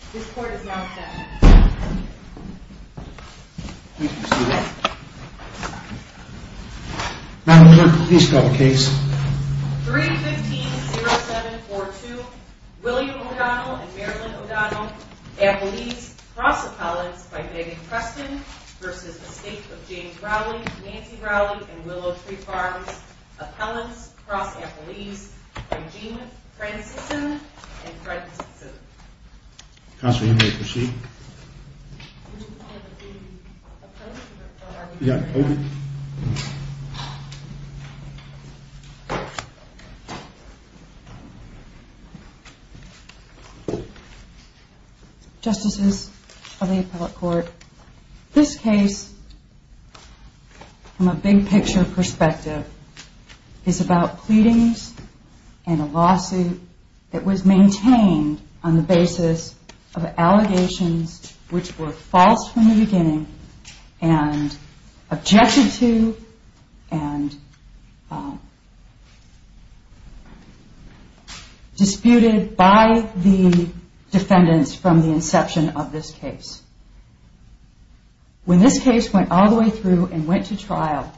315-0742 William O'Donnell and Marilyn O'Donnell, appellees, cross-appellants by Megan Preston v. Estate of James Rowley, Nancy Rowley, and Willow Tree Farms, appellants, cross-appellees, by Jean Francison and Fred Simpson. Counsel, you may proceed. Would you like to be approached? Okay. Thank you. Justices of the Appellate Court, this case from a big picture perspective is about pleadings and a lawsuit that was maintained on the basis of allegations which were false from the beginning and objected to and disputed by the defendants from the inception of this case. When this case went all the way through and went to trial,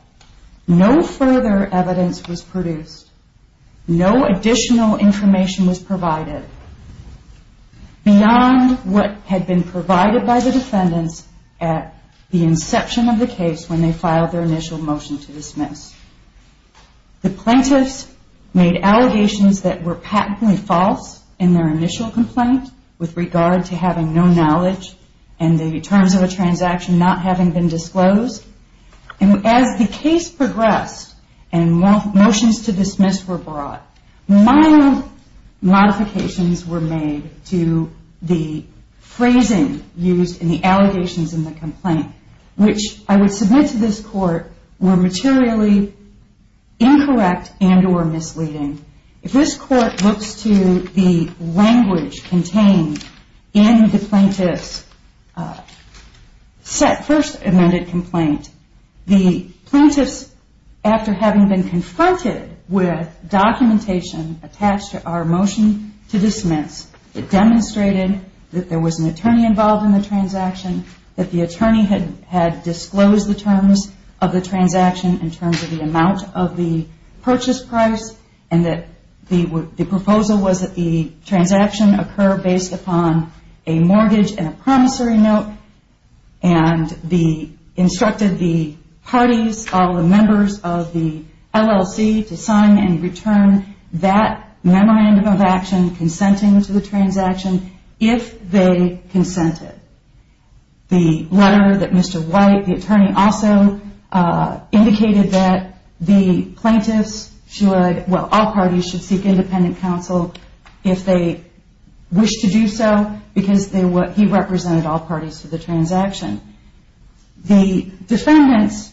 no further evidence was produced. No additional information was provided beyond what had been provided by the defendants at the inception of the case when they filed their initial motion to dismiss. The plaintiffs made allegations that were patently false in their initial complaint with regard to having no knowledge and the terms of a transaction not having been disclosed. As the case progressed and motions to dismiss were brought, mild modifications were made to the phrasing used in the allegations in the complaint which I would submit to this court were materially incorrect and or misleading. If this court looks to the language contained in the plaintiff's first amended complaint, the plaintiffs, after having been confronted with documentation attached to our motion to dismiss, it demonstrated that there was an attorney involved in the transaction, that the attorney had disclosed the terms of the transaction in terms of the amount of the purchase price and that the proposal was that the transaction occur based upon a mortgage and a promissory note and instructed the parties, all the members of the LLC to sign and return that memorandum of action consenting to the transaction if they consented. The letter that Mr. White, the attorney, also indicated that the plaintiffs should, well all parties should seek independent counsel if they wish to do so because he represented all parties to the transaction. The defendants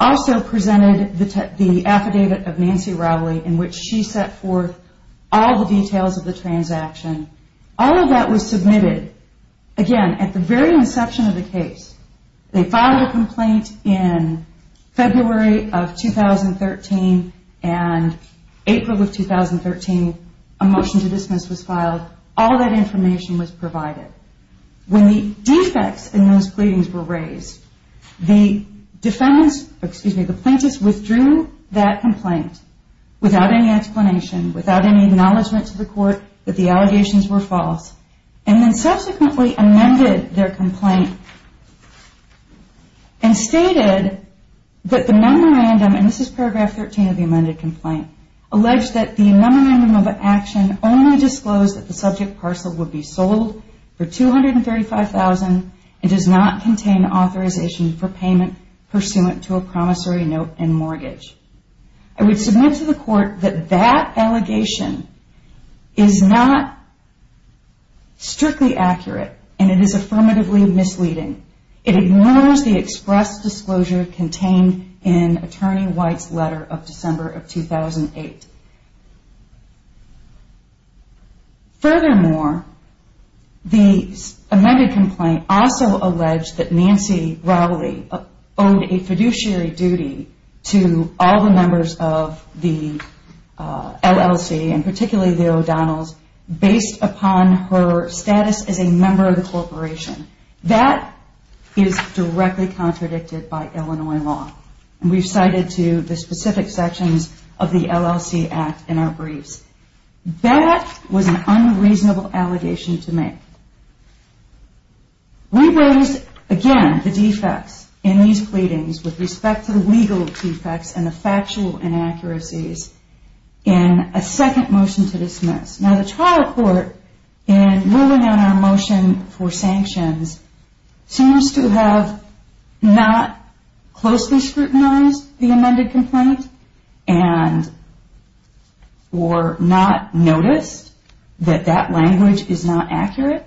also presented the affidavit of Nancy Rowley in which she set forth all the details of the transaction. All of that was submitted, again, at the very inception of the case. They filed a complaint in February of 2013 and April of 2013, a motion to dismiss was filed. All that information was provided. When the defects in those pleadings were raised, the defendants, excuse me, the plaintiffs withdrew that complaint without any explanation, without any acknowledgement to the court that the allegations were false and then subsequently amended their complaint and stated that the memorandum, and this is paragraph 13 of the amended complaint, alleged that the memorandum of action only disclosed that the subject parcel would be sold for $235,000 and does not contain authorization for payment pursuant to a promissory note and mortgage. I would submit to the court that that allegation is not strictly accurate and it is affirmatively misleading. It ignores the express disclosure contained in Attorney White's letter of December of 2008. Furthermore, the amended complaint also alleged that Nancy Rowley owed a fiduciary duty to all the members of the LLC and particularly the O'Donnells based upon her status as a member of the corporation. That is directly contradicted by Illinois law and we've cited to the specific sections of the LLC Act in our briefs. That was an unreasonable allegation to make. We raised, again, the defects in these pleadings with respect to the legal defects and the factual inaccuracies in a second motion to dismiss. Now, the trial court, in ruling on our motion for sanctions, seems to have not closely scrutinized the amended complaint or not noticed that that language is not accurate.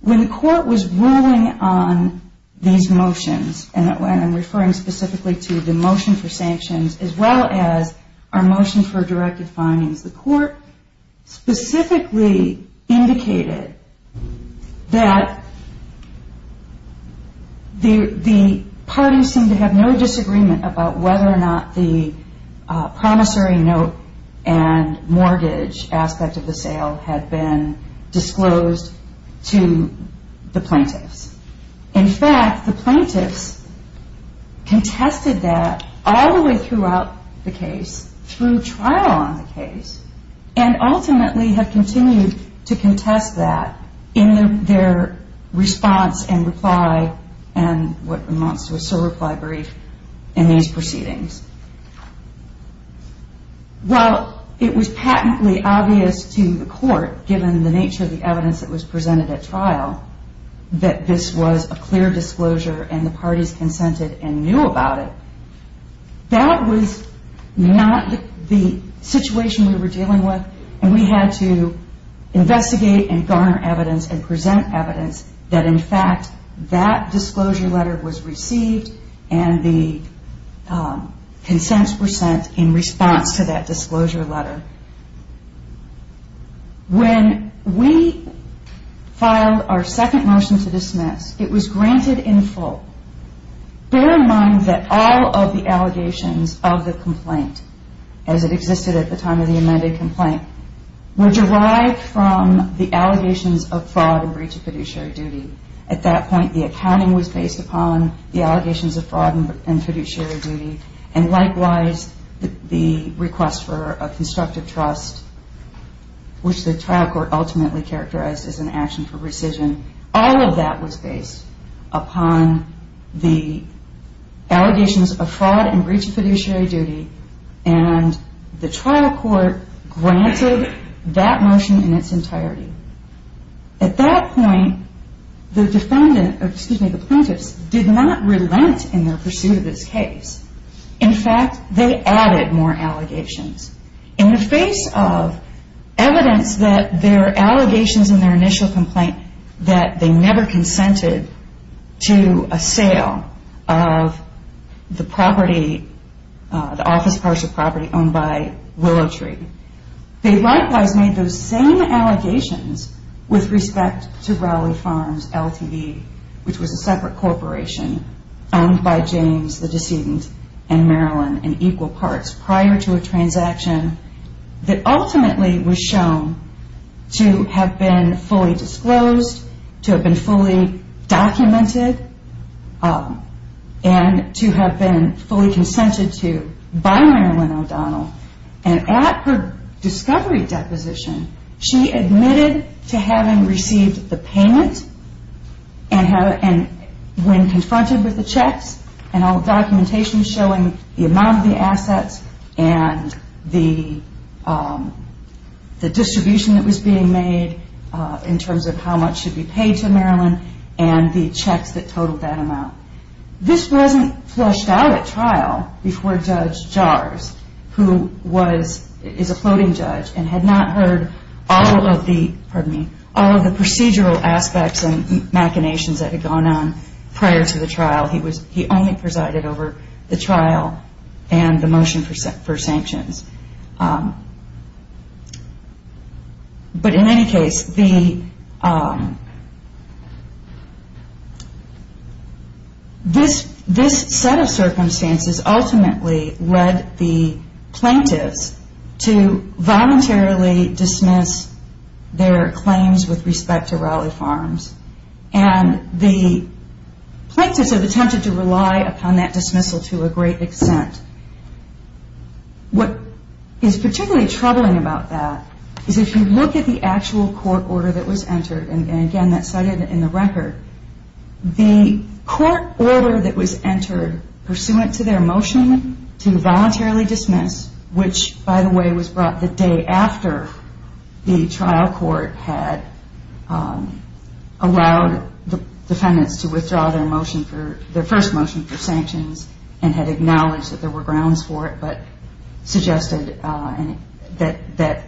When the court was ruling on these motions, and I'm referring specifically to the motion for sanctions as well as our motion for directive findings, the court specifically indicated that the parties seemed to have no disagreement about whether or not the promissory note and mortgage aspect of the sale had been disclosed. In fact, the plaintiffs contested that all the way throughout the case through trial on the case and ultimately have continued to contest that in their response and reply and what amounts to a sole reply brief in these proceedings. While it was patently obvious to the court, given the nature of the evidence that was presented at trial, that this was a clear disclosure and the parties consented and knew about it, that was not the situation we were dealing with. And we had to investigate and garner evidence and present evidence that, in fact, that disclosure letter was received and the consents were sent in response to that disclosure letter. When we filed our second motion to dismiss, it was granted in full. Bear in mind that all of the allegations of the complaint, as it existed at the time of the amended complaint, were derived from the allegations of fraud and breach of fiduciary duty. At that point, the accounting was based upon the allegations of fraud and fiduciary duty and likewise the request for a constructive trust, which the trial court ultimately characterized as an action for rescission. All of that was based upon the allegations of fraud and breach of fiduciary duty and the trial court granted that motion in its entirety. At that point, the plaintiffs did not relent in their pursuit of this case. In fact, they added more allegations. In the face of evidence that there are allegations in their initial complaint that they never consented to a sale of the office parts of property owned by Willow Tree, they likewise made those same allegations with respect to Rowley Farms Ltd., which was a separate corporation owned by James, the decedent, and Marilyn in equal parts prior to a transaction that ultimately was shown to have been fully disclosed, to have been fully documented, and to have been fully consented to by Marilyn O'Donnell. At her discovery deposition, she admitted to having received the payment when confronted with the checks and all the documentation showing the amount of the assets and the distribution that was being made in terms of how much should be paid to Marilyn and the checks that totaled that amount. This wasn't flushed out at trial before Judge Jars, who is a floating judge and had not heard all of the procedural aspects and machinations that had gone on prior to the trial. He only presided over the trial and the motion for sanctions. This set of circumstances ultimately led the plaintiffs to voluntarily dismiss their claims with respect to Rowley Farms. The plaintiffs have attempted to rely upon that dismissal to a great extent. What is particularly troubling about that is if you look at the actual court order that was entered, and again that's cited in the record, the court order that was entered pursuant to their motion to voluntarily dismiss, which by the way was brought the day after the trial court had allowed the defendants to withdraw their first motion for sanctions and had acknowledged that there were grounds for it, but suggested that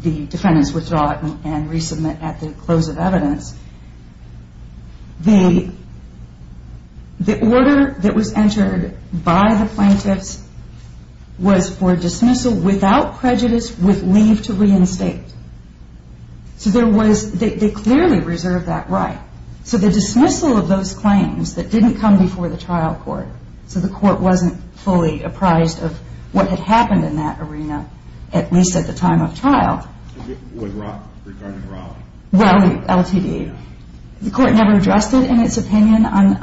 the defendants withdraw it and resubmit at the close of evidence. The order that was entered by the plaintiffs was for dismissal without prejudice with leave to reinstate. So they clearly reserved that right. So the dismissal of those claims that didn't come before the trial court, so the court wasn't fully apprised of what had happened in that arena, at least at the time of trial. With regard to Rowley? Rowley LTD. The court never addressed it in its opinion on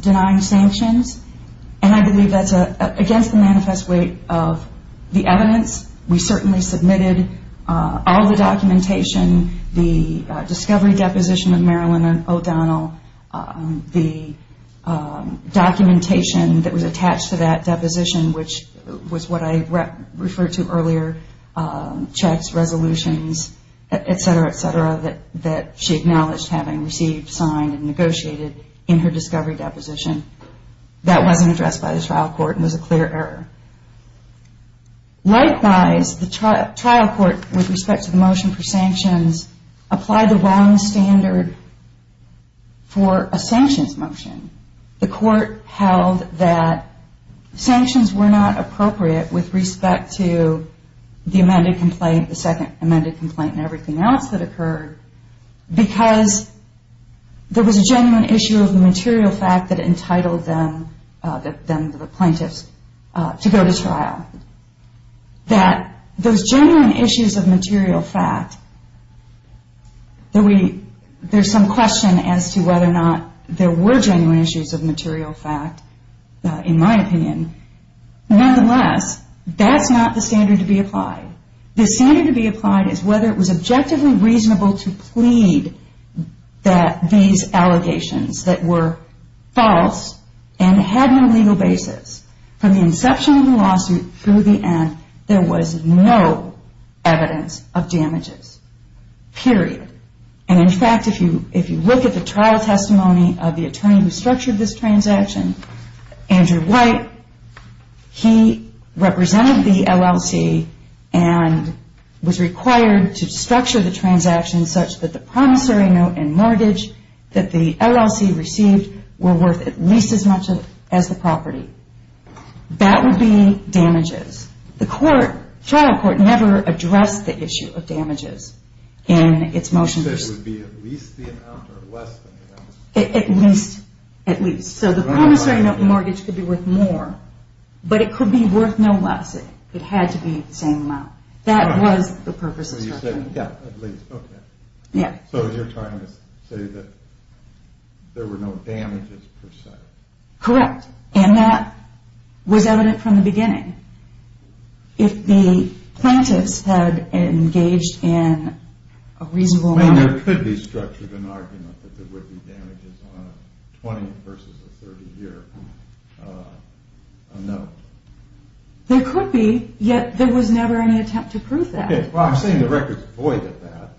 denying sanctions, and I believe that's against the manifest weight of the evidence. We certainly submitted all the documentation, the discovery deposition of Marilyn O'Donnell, the documentation that was attached to that deposition, which was what I referred to earlier, checks, resolutions, etc., etc., that she acknowledged having received, signed, and negotiated in her discovery deposition. That wasn't addressed by the trial court and was a clear error. Likewise, the trial court, with respect to the motion for sanctions, applied the wrong standard for a sanctions motion. The court held that sanctions were not appropriate with respect to the amended complaint, the second amended complaint, and everything else that occurred because there was a genuine issue of the material fact that entitled them, the plaintiffs, to go to trial. That those genuine issues of material fact, there's some question as to whether or not there were genuine issues of material fact, in my opinion, nonetheless, that's not the standard to be applied. The standard to be applied is whether it was objectively reasonable to plead that these allegations that were false and had no legal basis, from the inception of the lawsuit through the end, there was no evidence of damages, period. And, in fact, if you look at the trial testimony of the attorney who structured this transaction, Andrew White, he represented the LLC and was required to structure the transaction such that the promissory note and mortgage that the LLC received were worth at least as much as the property. That would be damages. The court, trial court, never addressed the issue of damages in its motion. You said it would be at least the amount or less than the amount? At least, at least. So the promissory note and mortgage could be worth more, but it could be worth no less. It had to be the same amount. That was the purpose of structuring. So you said, yeah, at least, okay. Yeah. So you're trying to say that there were no damages, per se. Correct. And that was evident from the beginning. If the plaintiffs had engaged in a reasonable manner... I mean, there could be structure of an argument that there would be damages on a 20 versus a 30-year note. There could be, yet there was never any attempt to prove that. I'm saying the record is void of that.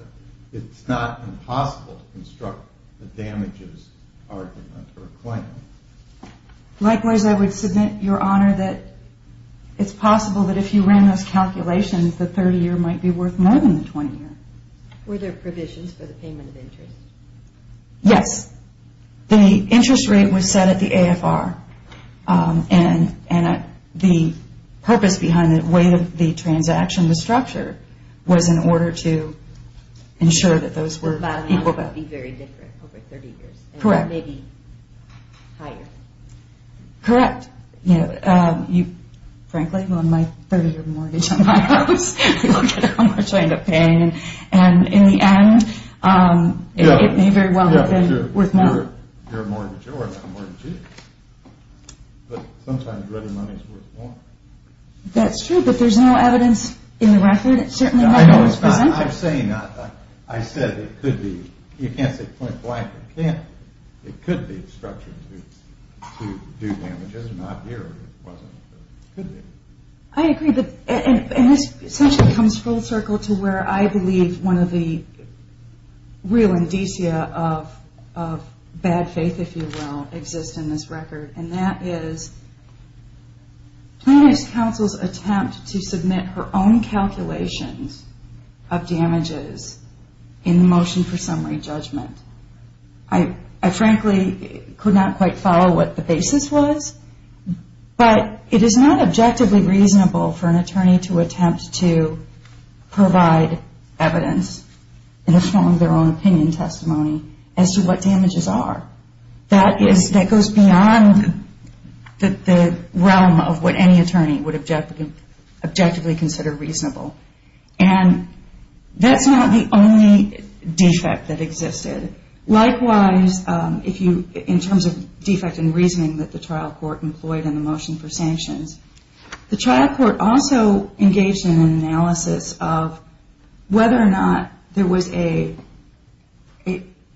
It's not impossible to construct the damages argument or claim. Likewise, I would submit, Your Honor, that it's possible that if you ran those calculations, the 30-year might be worth more than the 20-year. Were there provisions for the payment of interest? Yes. The interest rate was set at the AFR. And the purpose behind the weight of the transaction, the structure, was in order to ensure that those were equal. The value would be very different over 30 years. Correct. It may be higher. Correct. You know, frankly, on my 30-year mortgage on my house, you don't get how much I end up paying. And in the end, it may very well have been worth more. You're a mortgager. We're not mortgages. But sometimes ready money is worth more. That's true. But there's no evidence in the record. It certainly wasn't presented. I'm saying that. I said it could be. You can't say point blank it can't. It could be structured to do damages. Not here. It wasn't. It could be. I agree. And this essentially comes full circle to where I believe one of the real indicia of bad faith, if you will, exists in this record. And that is Plano's counsel's attempt to submit her own calculations of damages in the motion for summary judgment. I frankly could not quite follow what the basis was. But it is not objectively reasonable for an attorney to attempt to provide evidence in the form of their own opinion testimony as to what damages are. That goes beyond the realm of what any attorney would objectively consider reasonable. And that's not the only defect that existed. Likewise, in terms of defect in reasoning that the trial court employed in the motion for sanctions, the trial court also engaged in an analysis of whether or not there was a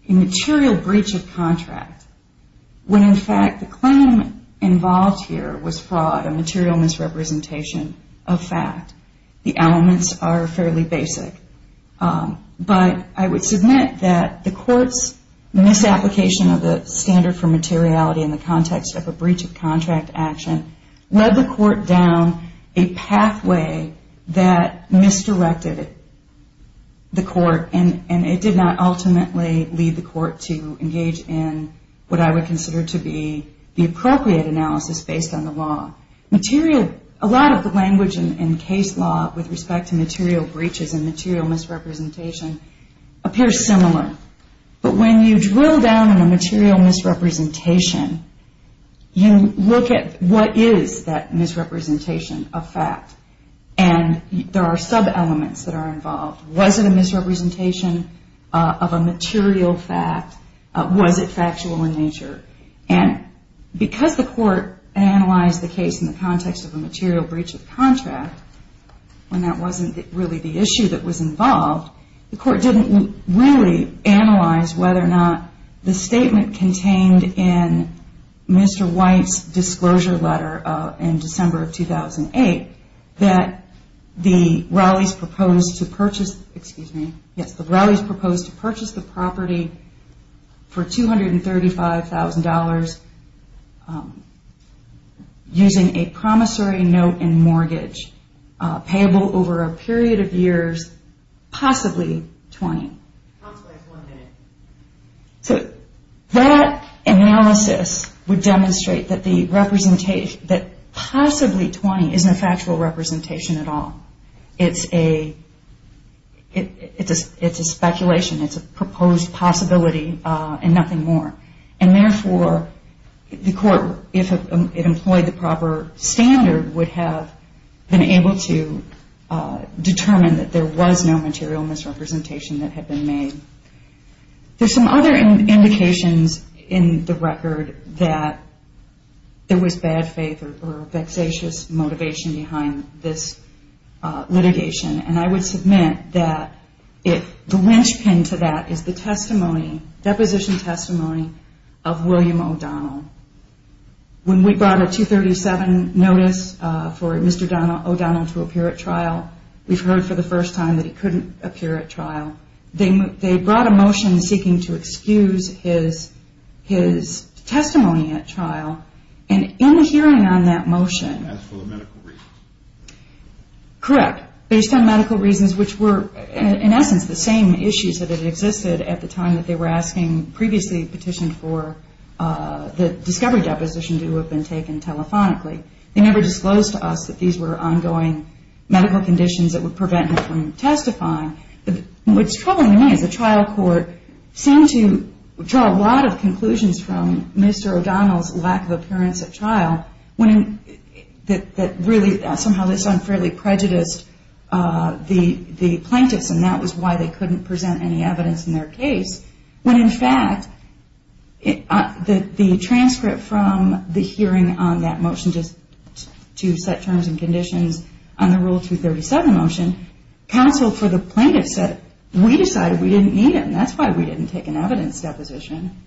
material breach of contract when, in fact, the claim involved here was fraud, a material misrepresentation of fact. The elements are fairly basic. But I would submit that the court's misapplication of the standard for materiality in the context of a breach of contract action led the court down a pathway that misdirected the court. And it did not ultimately lead the court to engage in what I would consider to be the appropriate analysis based on the law. A lot of the language in case law with respect to material breaches and material misrepresentation appears similar. But when you drill down in a material misrepresentation, you look at what is that misrepresentation of fact. And there are sub-elements that are involved. Was it a misrepresentation of a material fact? Was it factual in nature? And because the court analyzed the case in the context of a material breach of contract, when that wasn't really the issue that was involved, the court didn't really analyze whether or not the statement contained in Mr. White's disclosure letter in December of 2008 that the Rowleys proposed to purchase the property for $235,000 using a promissory note in mortgage payable over a period of years, possibly 20. So that analysis would demonstrate that possibly 20 is no factual representation at all. It's a speculation. It's a proposed possibility and nothing more. And therefore, the court, if it employed the proper standard, would have been able to determine that there was no material misrepresentation that had been made. There's some other indications in the record that there was bad faith or vexatious motivation behind this litigation. And I would submit that the linchpin to that is the testimony, deposition testimony, of William O'Donnell. When we brought a 237 notice for Mr. O'Donnell to appear at trial, we've heard for the first time that he couldn't appear at trial. They brought a motion seeking to excuse his testimony at trial. And in the hearing on that motion- As for the medical reasons. Correct. Based on medical reasons, which were, in essence, the same issues that had existed at the time that they were asking, previously petitioned for the discovery deposition to have been taken telephonically, they never disclosed to us that these were ongoing medical conditions that would prevent him from testifying. What's troubling me is the trial court seemed to draw a lot of conclusions from Mr. O'Donnell's lack of appearance at trial that really somehow unfairly prejudiced the plaintiffs, and that was why they couldn't present any evidence in their case. When, in fact, the transcript from the hearing on that motion, just to set terms and conditions on the Rule 237 motion, counsel for the plaintiffs said, we decided we didn't need him. That's why we didn't take an evidence deposition.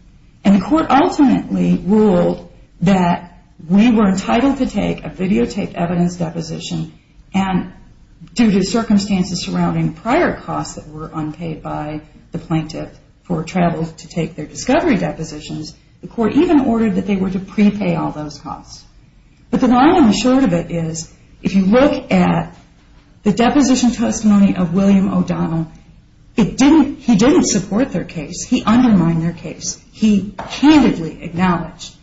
And the court ultimately ruled that we were entitled to take a videotaped evidence deposition, and due to circumstances surrounding prior costs that were unpaid by the plaintiff for travel to take their discovery depositions, the court even ordered that they were to prepay all those costs. But the long and the short of it is, if you look at the deposition testimony of William O'Donnell, he didn't support their case. He undermined their case. He handedly acknowledged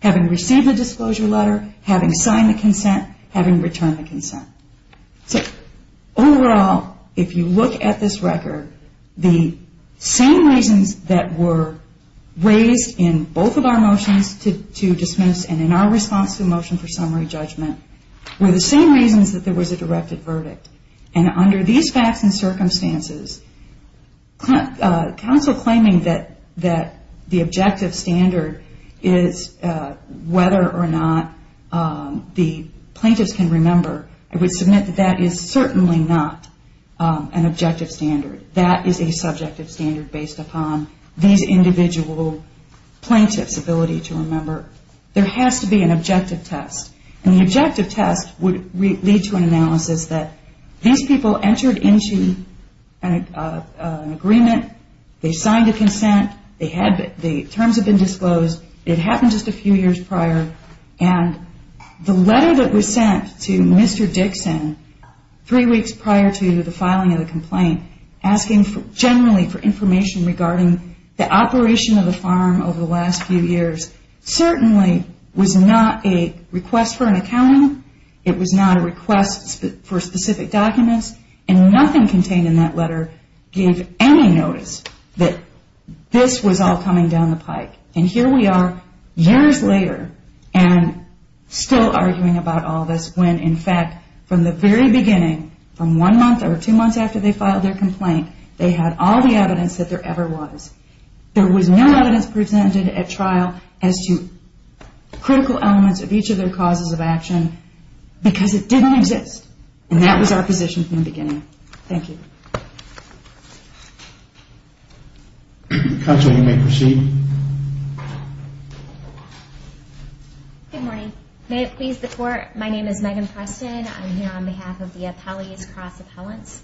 having received the disclosure letter, having signed the consent, having returned the consent. So overall, if you look at this record, the same reasons that were raised in both of our motions to dismiss and in our response to the motion for summary judgment were the same reasons that there was a directed verdict. And under these facts and circumstances, counsel claiming that the objective standard is whether or not the plaintiffs can remember, I would submit that that is certainly not an objective standard. That is a subjective standard based upon these individual plaintiffs' ability to remember. There has to be an objective test. And the objective test would lead to an analysis that these people entered into an agreement. They signed a consent. The terms have been disclosed. It happened just a few years prior. And the letter that was sent to Mr. Dixon three weeks prior to the filing of the complaint asking generally for information regarding the operation of the farm over the last few years certainly was not a request for an accounting. It was not a request for specific documents. And nothing contained in that letter gave any notice that this was all coming down the pike. And here we are years later and still arguing about all this when, in fact, from the very beginning, from one month or two months after they filed their complaint, they had all the evidence that there ever was. There was no evidence presented at trial as to critical elements of each of their causes of action because it didn't exist. And that was our position from the beginning. Thank you. Counsel, you may proceed. Good morning. May it please the Court, my name is Megan Preston. I'm here on behalf of the Appellees Cross Appellants.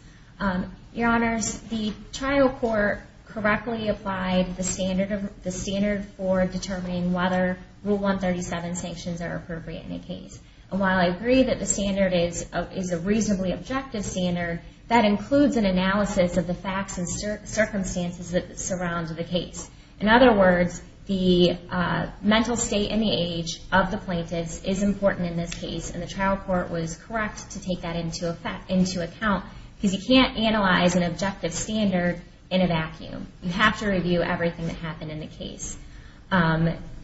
Your Honors, the trial court correctly applied the standard for determining whether Rule 137 sanctions are appropriate in a case. And while I agree that the standard is a reasonably objective standard, that includes an analysis of the facts and circumstances that surround the case. In other words, the mental state and the age of the plaintiff is important in this case. And the trial court was correct to take that into account because you can't analyze an objective standard in a vacuum. You have to review everything that happened in the case.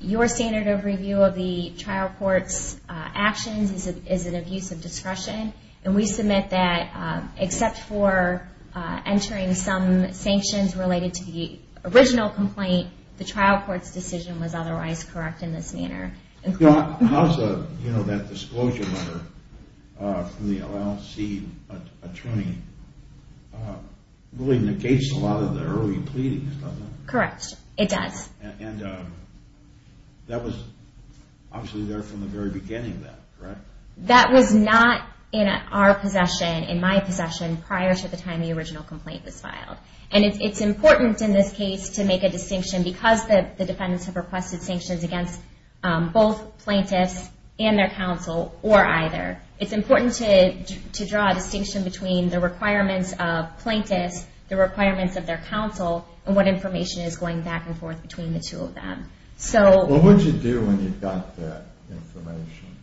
Your standard of review of the trial court's actions is an abuse of discretion. And we submit that except for entering some sanctions related to the original complaint, the trial court's decision was otherwise correct in this manner. You know, that disclosure letter from the LLC attorney really negates a lot of the early pleadings, doesn't it? Correct. It does. And that was obviously there from the very beginning then, correct? That was not in our possession, in my possession, prior to the time the original complaint was filed. And it's important in this case to make a distinction because the defendants have requested sanctions against both plaintiffs and their counsel, or either. It's important to draw a distinction between the requirements of plaintiffs, the requirements of their counsel, and what information is going back and forth between the two of them. What did you do when you got that information?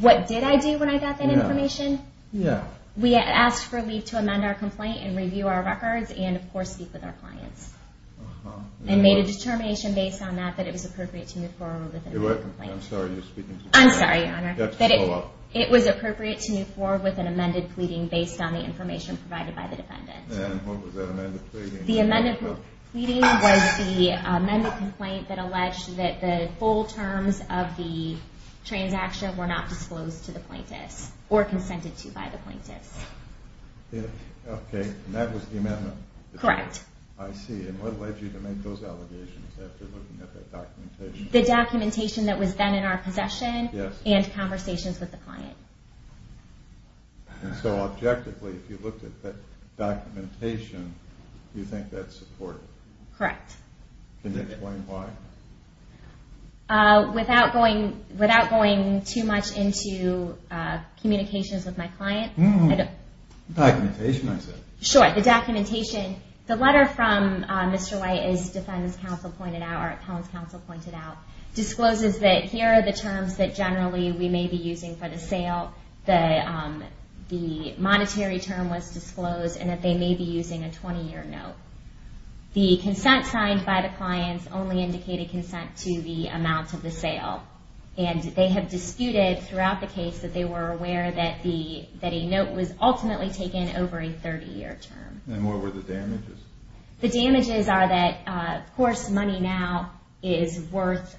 What did I do when I got that information? Yeah. We asked for leave to amend our complaint and review our records and, of course, speak with our clients. Uh-huh. And made a determination based on that that it was appropriate to move forward with an amended pleading. I'm sorry, you're speaking to me. I'm sorry, Your Honor. You have to slow up. It was appropriate to move forward with an amended pleading based on the information provided by the defendant. And what was that amended pleading? The amended pleading was the amended complaint that alleged that the full terms of the transaction were not disclosed to the plaintiffs or consented to by the plaintiffs. Okay, and that was the amendment? Correct. I see. And what led you to make those allegations after looking at that documentation? The documentation that was then in our possession and conversations with the client. And so, objectively, if you looked at that documentation, you think that's supported? Correct. Can you explain why? Without going too much into communications with my client. The documentation, I said. Sure, the documentation. The letter from Mr. White, as defense counsel pointed out, or appellant's counsel pointed out, discloses that here are the terms that generally we may be using for the sale. The monetary term was disclosed and that they may be using a 20-year note. The consent signed by the clients only indicated consent to the amount of the sale. And they have disputed throughout the case that they were aware that a note was ultimately taken over a 30-year term. And what were the damages? The damages are that, of course, money now is worth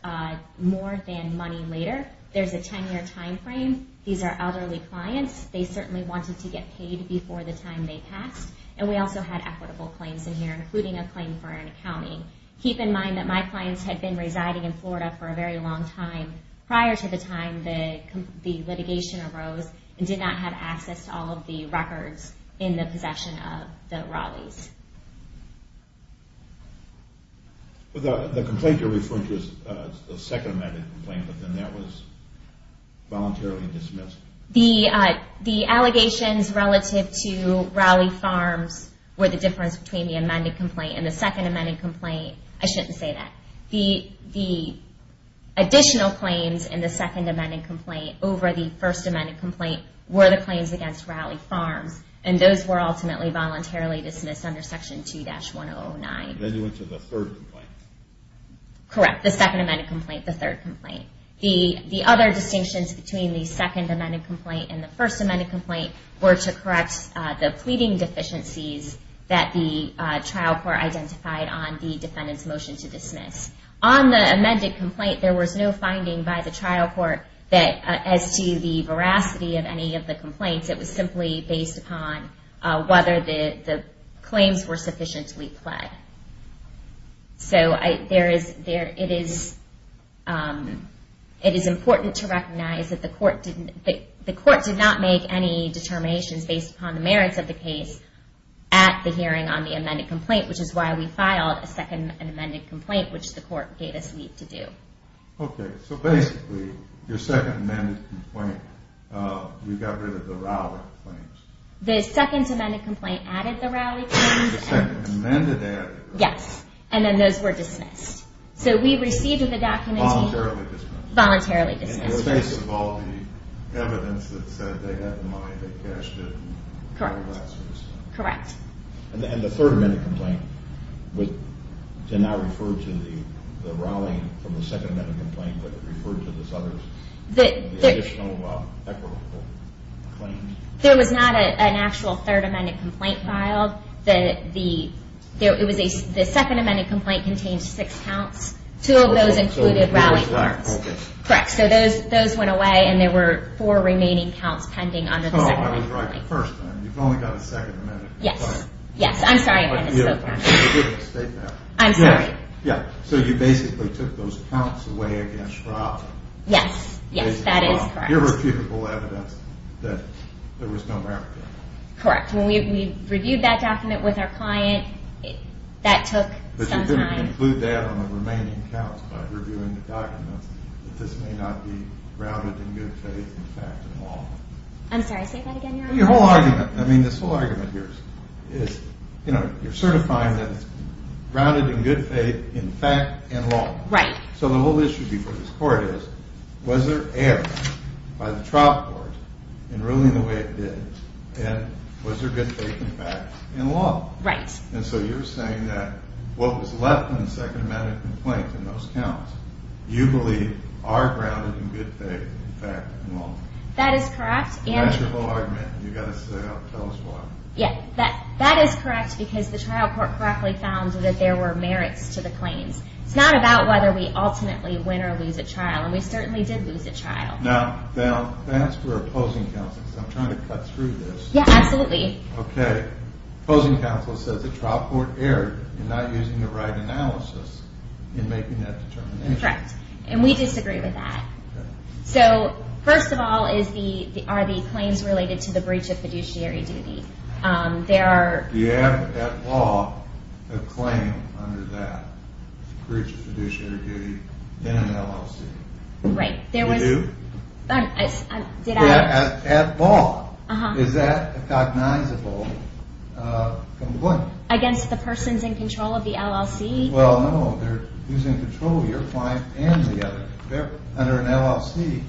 more than money later. There's a 10-year time frame. These are elderly clients. They certainly wanted to get paid before the time they passed. And we also had equitable claims in here, including a claim for an accounting. Keep in mind that my clients had been residing in Florida for a very long time prior to the time the litigation arose and did not have access to all of the records in the possession of the Rowleys. The complaint you're referring to is the second amended complaint, but then that was voluntarily dismissed. The allegations relative to Rowley Farms were the difference between the amended complaint and the second amended complaint. I shouldn't say that. The additional claims in the second amended complaint over the first amended complaint were the claims against Rowley Farms. And those were ultimately voluntarily dismissed under Section 2-1009. Then you went to the third complaint. Correct. The second amended complaint, the third complaint. The other distinctions between the second amended complaint and the first amended complaint were to correct the pleading deficiencies that the trial court identified on the defendant's motion to dismiss. On the amended complaint, there was no finding by the trial court as to the veracity of any of the complaints. It was simply based upon whether the claims were sufficiently pled. So it is important to recognize that the court did not make any determinations based upon the merits of the case at the hearing on the amended complaint, which is why we filed a second amended complaint, which the court gave us leave to do. Okay, so basically, your second amended complaint, you got rid of the Rowley claims. The second amended complaint added the Rowley claims. The second amended added the Rowley claims. Yes, and then those were dismissed. So we received the document voluntarily dismissed. Voluntarily dismissed. In the face of all the evidence that said they had the money, they cashed it, and that sort of stuff. Correct. And the third amended complaint did not refer to the Rowley from the second amended complaint, but it referred to the Sutter's additional equitable claims. There was not an actual third amended complaint filed. The second amended complaint contained six counts. Two of those included Rowley claims. Correct. So those went away, and there were four remaining counts pending under the second amended complaint. Oh, I was right the first time. You've only got a second amended complaint. Yes, yes. I'm sorry. You didn't state that. I'm sorry. Yeah. So you basically took those counts away against Schraub. Yes, yes. That is correct. To give her feasible evidence that there was no raffle. Correct. When we reviewed that document with our client, that took some time. But you're going to conclude that on the remaining counts by reviewing the documents, that this may not be grounded in good faith, in fact, and law. I'm sorry. Say that again, Your Honor. Your whole argument, I mean, this whole argument here is, you know, you're certifying that it's grounded in good faith, in fact, and law. Right. So the whole issue before this court is, was there error by the trial court in ruling the way it did, and was there good faith, in fact, and law? Right. And so you're saying that what was left in the second amended complaint in those counts, you believe are grounded in good faith, in fact, and law. That is correct. That's your whole argument, and you've got to tell us why. Yeah. That is correct because the trial court correctly found that there were merits to the claims. It's not about whether we ultimately win or lose a trial, and we certainly did lose a trial. Now, that's for opposing counsel, because I'm trying to cut through this. Yeah, absolutely. Okay. Opposing counsel says the trial court erred in not using the right analysis in making that determination. Correct. And we disagree with that. Okay. So, first of all, are the claims related to the breach of fiduciary duty? Do you have, at law, a claim under that breach of fiduciary duty in an LLC? Right. You do? At law, is that a cognizable complaint? Against the persons in control of the LLC? Well, no. They're using control of your client and the other. Under an LLC,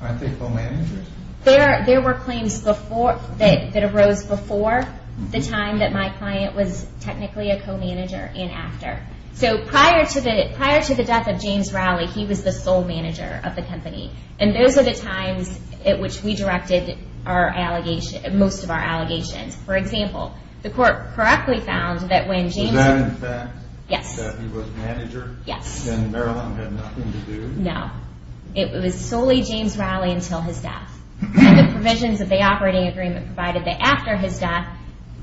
aren't they co-managers? There were claims that arose before the time that my client was technically a co-manager and after. So, prior to the death of James Rowley, he was the sole manager of the company, and those are the times at which we directed most of our allegations. For example, the court correctly found that when James – Was that in fact – Yes. – that he was manager? Yes. And Marilyn had nothing to do? No. It was solely James Rowley until his death. And the provisions of the operating agreement provided that after his death,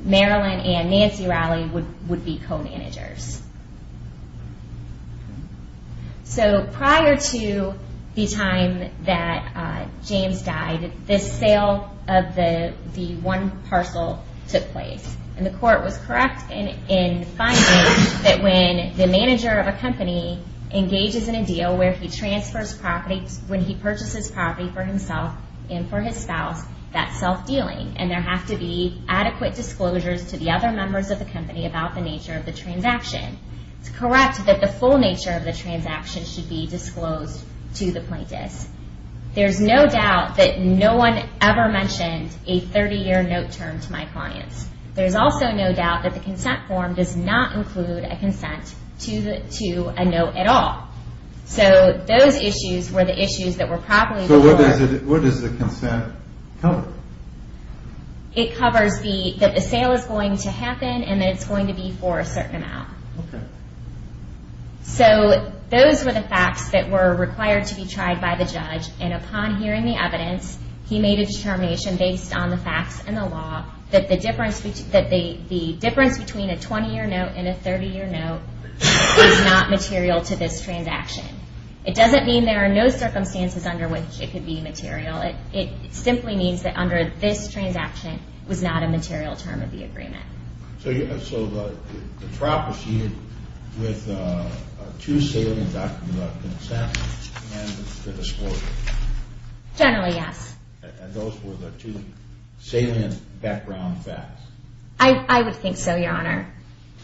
Marilyn and Nancy Rowley would be co-managers. So, prior to the time that James died, this sale of the one parcel took place, and the court was correct in finding that when the manager of a company engages in a deal where he transfers property – when he purchases property for himself and for his spouse, that's self-dealing, and there have to be adequate disclosures to the other members of the company about the nature of the transaction. It's correct that the full nature of the transaction should be disclosed to the plaintiffs. There's no doubt that no one ever mentioned a 30-year note term to my clients. There's also no doubt that the consent form does not include a consent to a note at all. So, those issues were the issues that were probably before – So, what does the consent cover? It covers that the sale is going to happen and that it's going to be for a certain amount. Okay. So, those were the facts that were required to be tried by the judge, and upon hearing the evidence, he made a determination based on the facts and the law that the difference between a 20-year note and a 30-year note is not material to this transaction. It doesn't mean there are no circumstances under which it could be material. It simply means that under this transaction was not a material term of the agreement. So, the trial proceeded with two salient documents of consent and the disclosure? Generally, yes. And those were the two salient background facts? I would think so, Your Honor.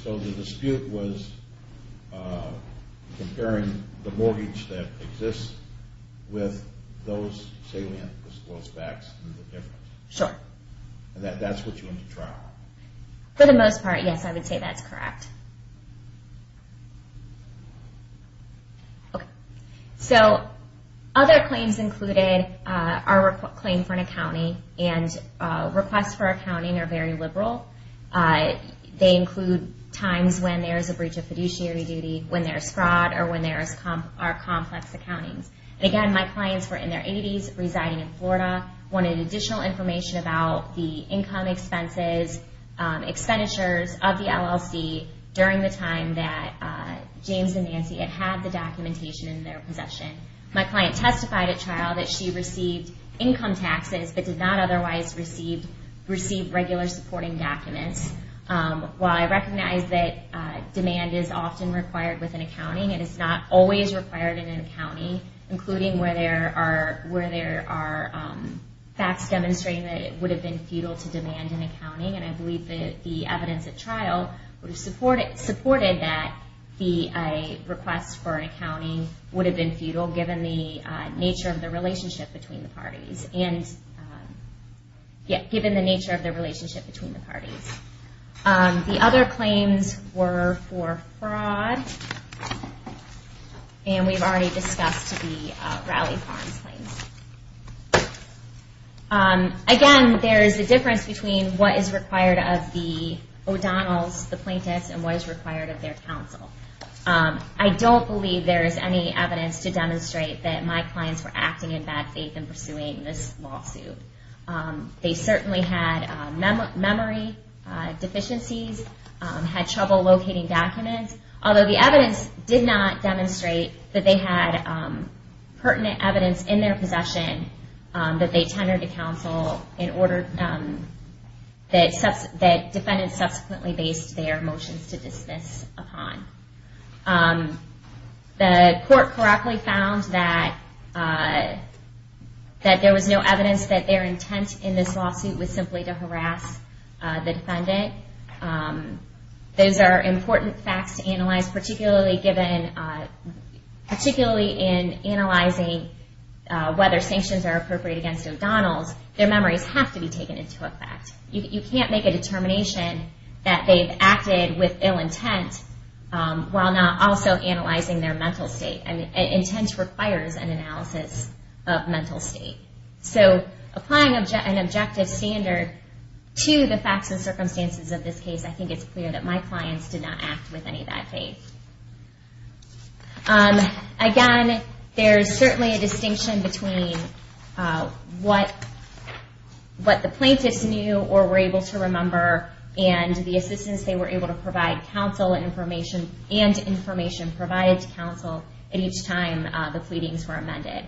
So, the dispute was comparing the mortgage that exists with those salient disclosed facts and the difference? Sure. And that's what you want to trial? For the most part, yes, I would say that's correct. Okay. So, other claims included our claim for an accounting, and requests for accounting are very liberal. They include times when there is a breach of fiduciary duty, when there is fraud, or when there are complex accountings. And again, my clients were in their 80s, residing in Florida, wanted additional information about the income expenses, expenditures of the LLC, during the time that James and Nancy had had the documentation in their possession. My client testified at trial that she received income taxes, but did not otherwise receive regular supporting documents. While I recognize that demand is often required with an accounting, it is not always required in an accounting, including where there are facts demonstrating that it would have been futile to demand an accounting. And I believe that the evidence at trial supported that a request for an accounting would have been futile, given the nature of the relationship between the parties. The other claims were for fraud, and we've already discussed the Raleigh Farms claims. Again, there is a difference between what is required of the O'Donnells, the plaintiffs, and what is required of their counsel. I don't believe there is any evidence to demonstrate that my clients were acting in bad faith in pursuing this lawsuit. They certainly had memory deficiencies, had trouble locating documents, although the evidence did not demonstrate that they had pertinent evidence in their possession that they tendered to counsel in order that defendants subsequently based their motions to dismiss upon. The court correctly found that there was no evidence that their intent in this lawsuit was simply to harass the defendant. Those are important facts to analyze, particularly in analyzing whether sanctions are appropriate against O'Donnells. Their memories have to be taken into effect. You can't make a determination that they've acted with ill intent while not also analyzing their mental state. Intent requires an analysis of mental state. So applying an objective standard to the facts and circumstances of this case, I think it's clear that my clients did not act with any bad faith. Again, there's certainly a distinction between what the plaintiffs knew or were able to remember and the assistance they were able to provide counsel and information provided to counsel at each time the pleadings were amended.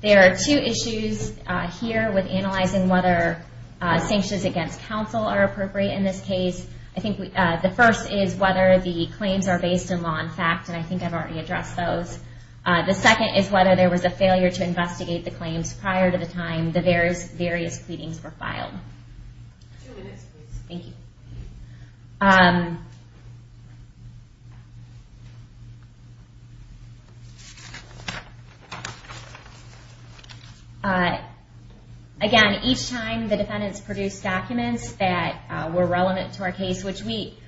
There are two issues here with analyzing whether sanctions against counsel are appropriate in this case. The first is whether the claims are based in law and fact, and I think I've already addressed those. The second is whether there was a failure to investigate the claims prior to the time the various pleadings were filed. Two minutes, please. Thank you. Again, each time the defendants produced documents that were relevant to our case, which we,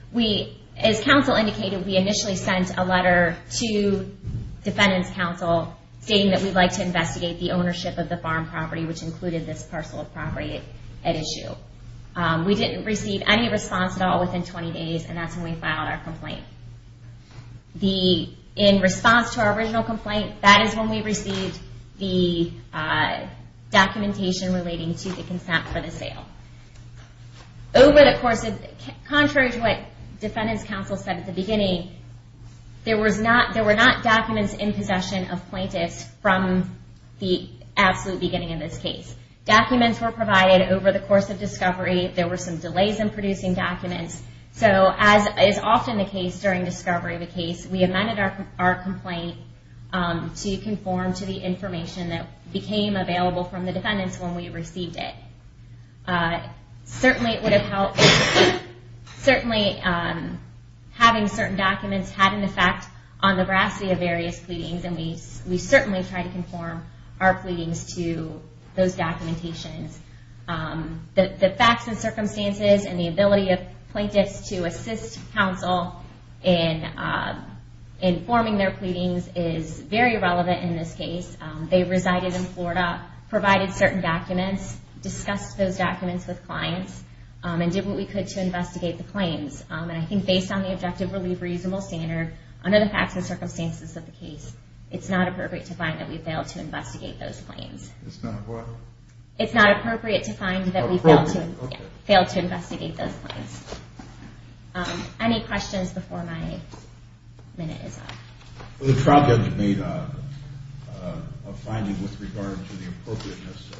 as counsel indicated, we initially sent a letter to defendant's counsel stating that we'd like to investigate the ownership of the farm property, which included this parcel of property at issue. We didn't receive any response at all within 20 days, and that's when we filed our complaint. In response to our original complaint, that is when we received the documentation relating to the consent for the sale. Contrary to what defendant's counsel said at the beginning, there were not documents in possession of plaintiffs from the absolute beginning of this case. Documents were provided over the course of discovery. There were some delays in producing documents. So, as is often the case during discovery of a case, we amended our complaint to conform to the information that became available from the defendants when we received it. Certainly, it would have helped. Certainly, having certain documents had an effect on the veracity of various pleadings, and we certainly tried to conform our pleadings to those documentations. The facts and circumstances and the ability of plaintiffs to assist counsel in forming their pleadings is very relevant in this case. They resided in Florida, provided certain documents, discussed those documents with clients, and did what we could to investigate the claims. And I think based on the objective relief reasonable standard, under the facts and circumstances of the case, it's not appropriate to find that we failed to investigate those claims. It's not what? It's not appropriate to find that we failed to investigate those claims. Any questions before my minute is up? The trial judge made a finding with regard to the appropriateness,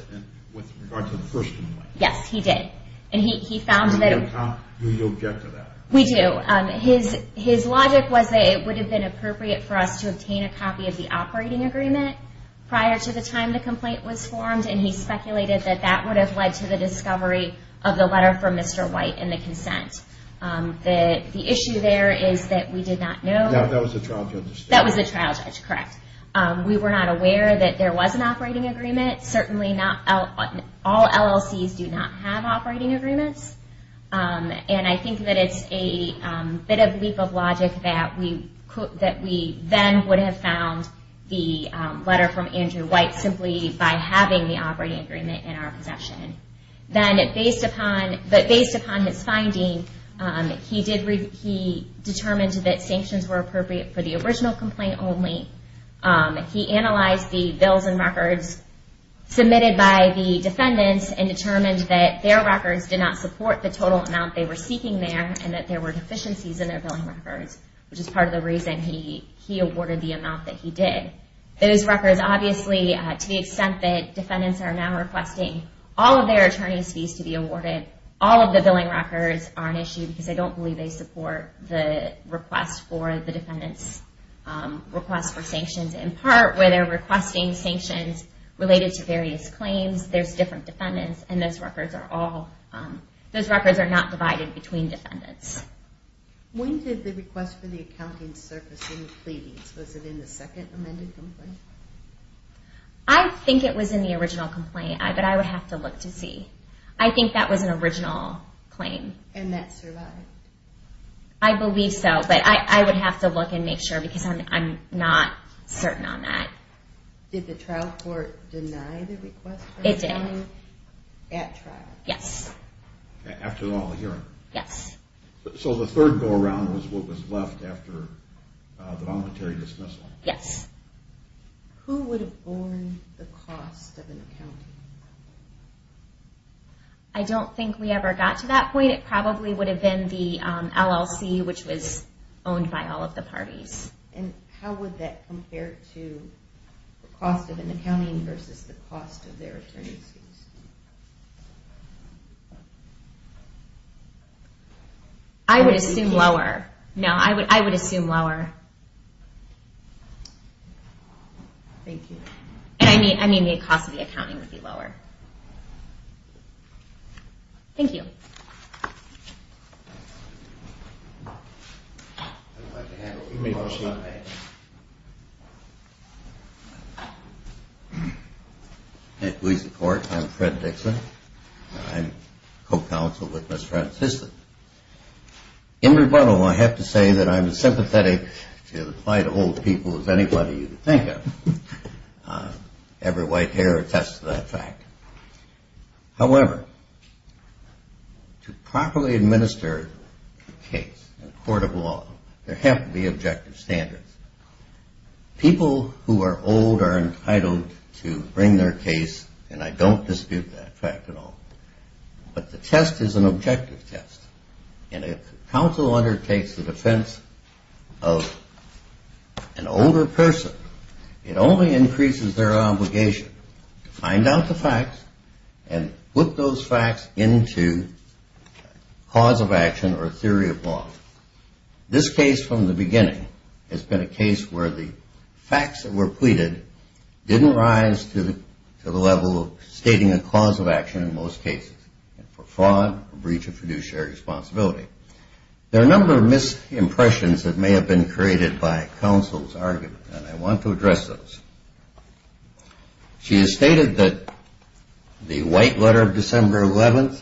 with regard to the first complaint. Yes, he did. And he found that... Do you object to that? We do. His logic was that it would have been appropriate for us to obtain a copy of the operating agreement prior to the time the complaint was formed, and he speculated that that would have led to the discovery of the letter from Mr. White and the consent. The issue there is that we did not know... That was the trial judge. That was the trial judge, correct. We were not aware that there was an operating agreement. Certainly, all LLCs do not have operating agreements, and I think that it's a bit of leap of logic that we then would have found the letter from Andrew White simply by having the operating agreement in our possession. But based upon his finding, he determined that sanctions were appropriate for the original complaint only. He analyzed the bills and records submitted by the defendants and determined that their records did not support the total amount they were seeking there and that there were deficiencies in their billing records, which is part of the reason he awarded the amount that he did. Those records, obviously, to the extent that defendants are now requesting all of their attorney's fees to be awarded, all of the billing records are an issue because they don't believe they support the request for the defendants' request for sanctions. In part, where they're requesting sanctions related to various claims, there's different defendants, and those records are not divided between defendants. When did the request for the accounting surface in the pleadings? Was it in the second amended complaint? I think it was in the original complaint, but I would have to look to see. I think that was an original claim. And that survived? I believe so, but I would have to look and make sure because I'm not certain on that. Did the trial court deny the request for accounting? It did. At trial? Yes. After the hearing? Yes. So the third go-around was what was left after the voluntary dismissal? Yes. Who would have borne the cost of an accounting? I don't think we ever got to that point. It probably would have been the LLC, which was owned by all of the parties. And how would that compare to the cost of an accounting versus the cost of their attorney's fees? I would assume lower. No, I would assume lower. Thank you. I mean the cost of the accounting would be lower. Thank you. I'd like to have a remotion on that. Please report. I'm Fred Dixon. I'm co-counsel with Ms. Francis. In rebuttal, I have to say that I'm as sympathetic to the plight of old people as anybody you can think of. Every white hair attests to that fact. However, to properly administer a case in a court of law, there have to be objective standards. People who are old are entitled to bring their case, and I don't dispute that fact at all. But the test is an objective test. And if counsel undertakes the defense of an older person, it only increases their obligation to find out the facts and put those facts into cause of action or theory of law. This case from the beginning has been a case where the facts that were pleaded didn't rise to the level of stating a cause of action in most cases for fraud, breach of fiduciary responsibility. There are a number of misimpressions that may have been created by counsel's argument, and I want to address those. She has stated that the white letter of December 11th,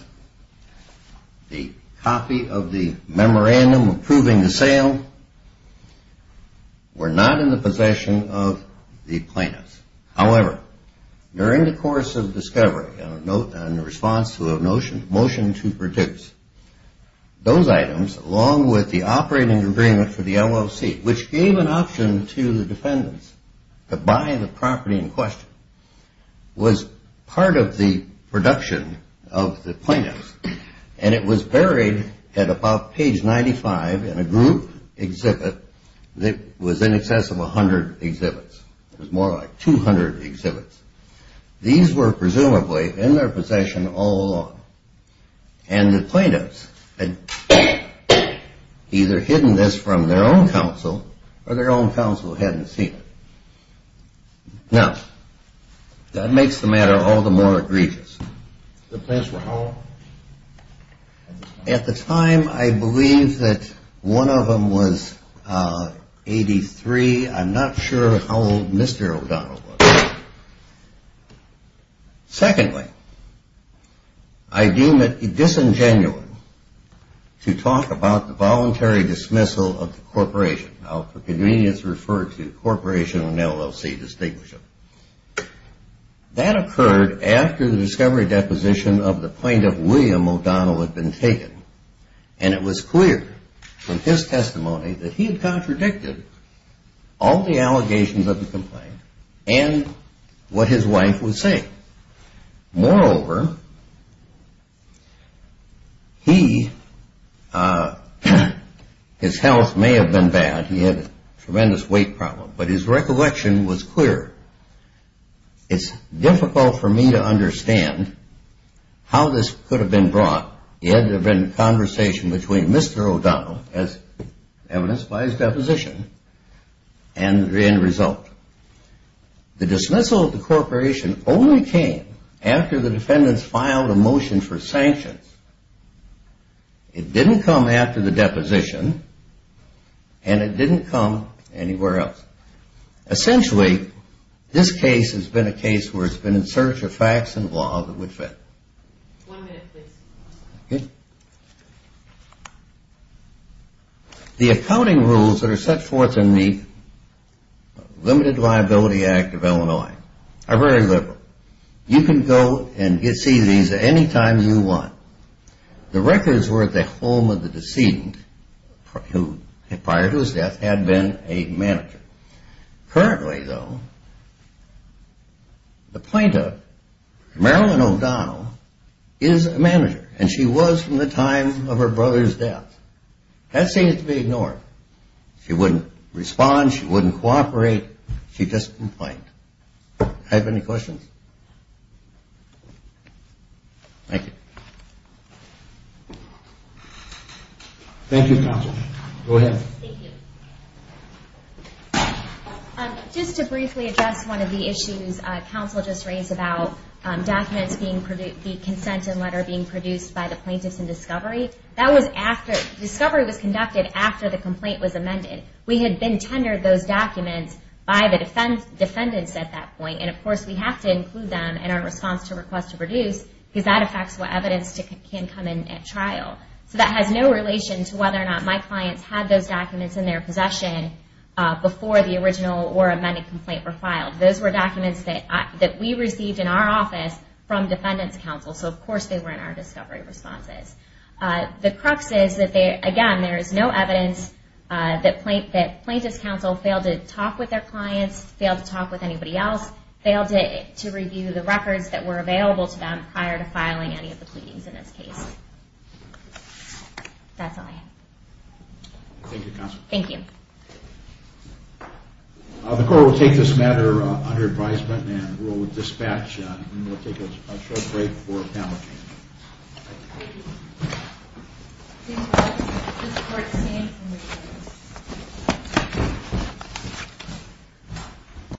the copy of the memorandum approving the sale, were not in the possession of the plaintiffs. However, during the course of discovery, in response to a motion to produce those items along with the operating agreement for the LLC, which gave an option to the defendants to buy the property in question, was part of the production of the plaintiffs, and it was buried at about page 95 in a group exhibit that was in excess of 100 exhibits. It was more like 200 exhibits. These were presumably in their possession all along. And the plaintiffs had either hidden this from their own counsel or their own counsel hadn't seen it. Now, that makes the matter all the more egregious. The plaintiffs were how old? At the time, I believe that one of them was 83. I'm not sure how old Mr. O'Donnell was. Secondly, I deem it disingenuous to talk about the voluntary dismissal of the corporation. Now, for convenience, refer to corporation and LLC distinguished. That occurred after the discovery deposition of the plaintiff, William O'Donnell, had been taken, and it was clear from his testimony that he had contradicted all the allegations of the complaint and what his wife was saying. Moreover, his health may have been bad. He had a tremendous weight problem, but his recollection was clear. It's difficult for me to understand how this could have been brought. He had to have been in conversation between Mr. O'Donnell, as evidenced by his deposition, and the end result. The dismissal of the corporation only came after the defendants filed a motion for sanctions. It didn't come after the deposition, and it didn't come anywhere else. Essentially, this case has been a case where it's been in search of facts and law that would fit. One minute, please. The accounting rules that are set forth in the Limited Liability Act of Illinois are very liberal. You can go and see these any time you want. The records were at the home of the decedent, who prior to his death had been a manager. Currently, though, the plaintiff, Marilyn O'Donnell, is a manager, and she was from the time of her brother's death. That seems to be ignored. She wouldn't respond. She wouldn't cooperate. She just complained. I have any questions? Thank you. Thank you, counsel. Go ahead. Thank you. Just to briefly address one of the issues counsel just raised about documents being produced, the consent and letter being produced by the plaintiffs in discovery, that was after discovery was conducted after the complaint was amended. We had been tendered those documents by the defendants at that point, and, of course, we have to include them in our response to request to produce, because that affects what evidence can come in at trial. So that has no relation to whether or not my clients had those documents in their possession before the original or amended complaint were filed. Those were documents that we received in our office from defendants' counsel, so, of course, they were in our discovery responses. The crux is that, again, there is no evidence that plaintiffs' counsel failed to talk with their clients, failed to talk with anybody else, failed to review the records that were available to them prior to filing any of the pleadings in this case. That's all I have. Thank you, counsel. Thank you. The court will take this matter under advisement and will dispatch, and we'll take a short break for panel discussion. Thank you. Thank you all. This court is adjourned.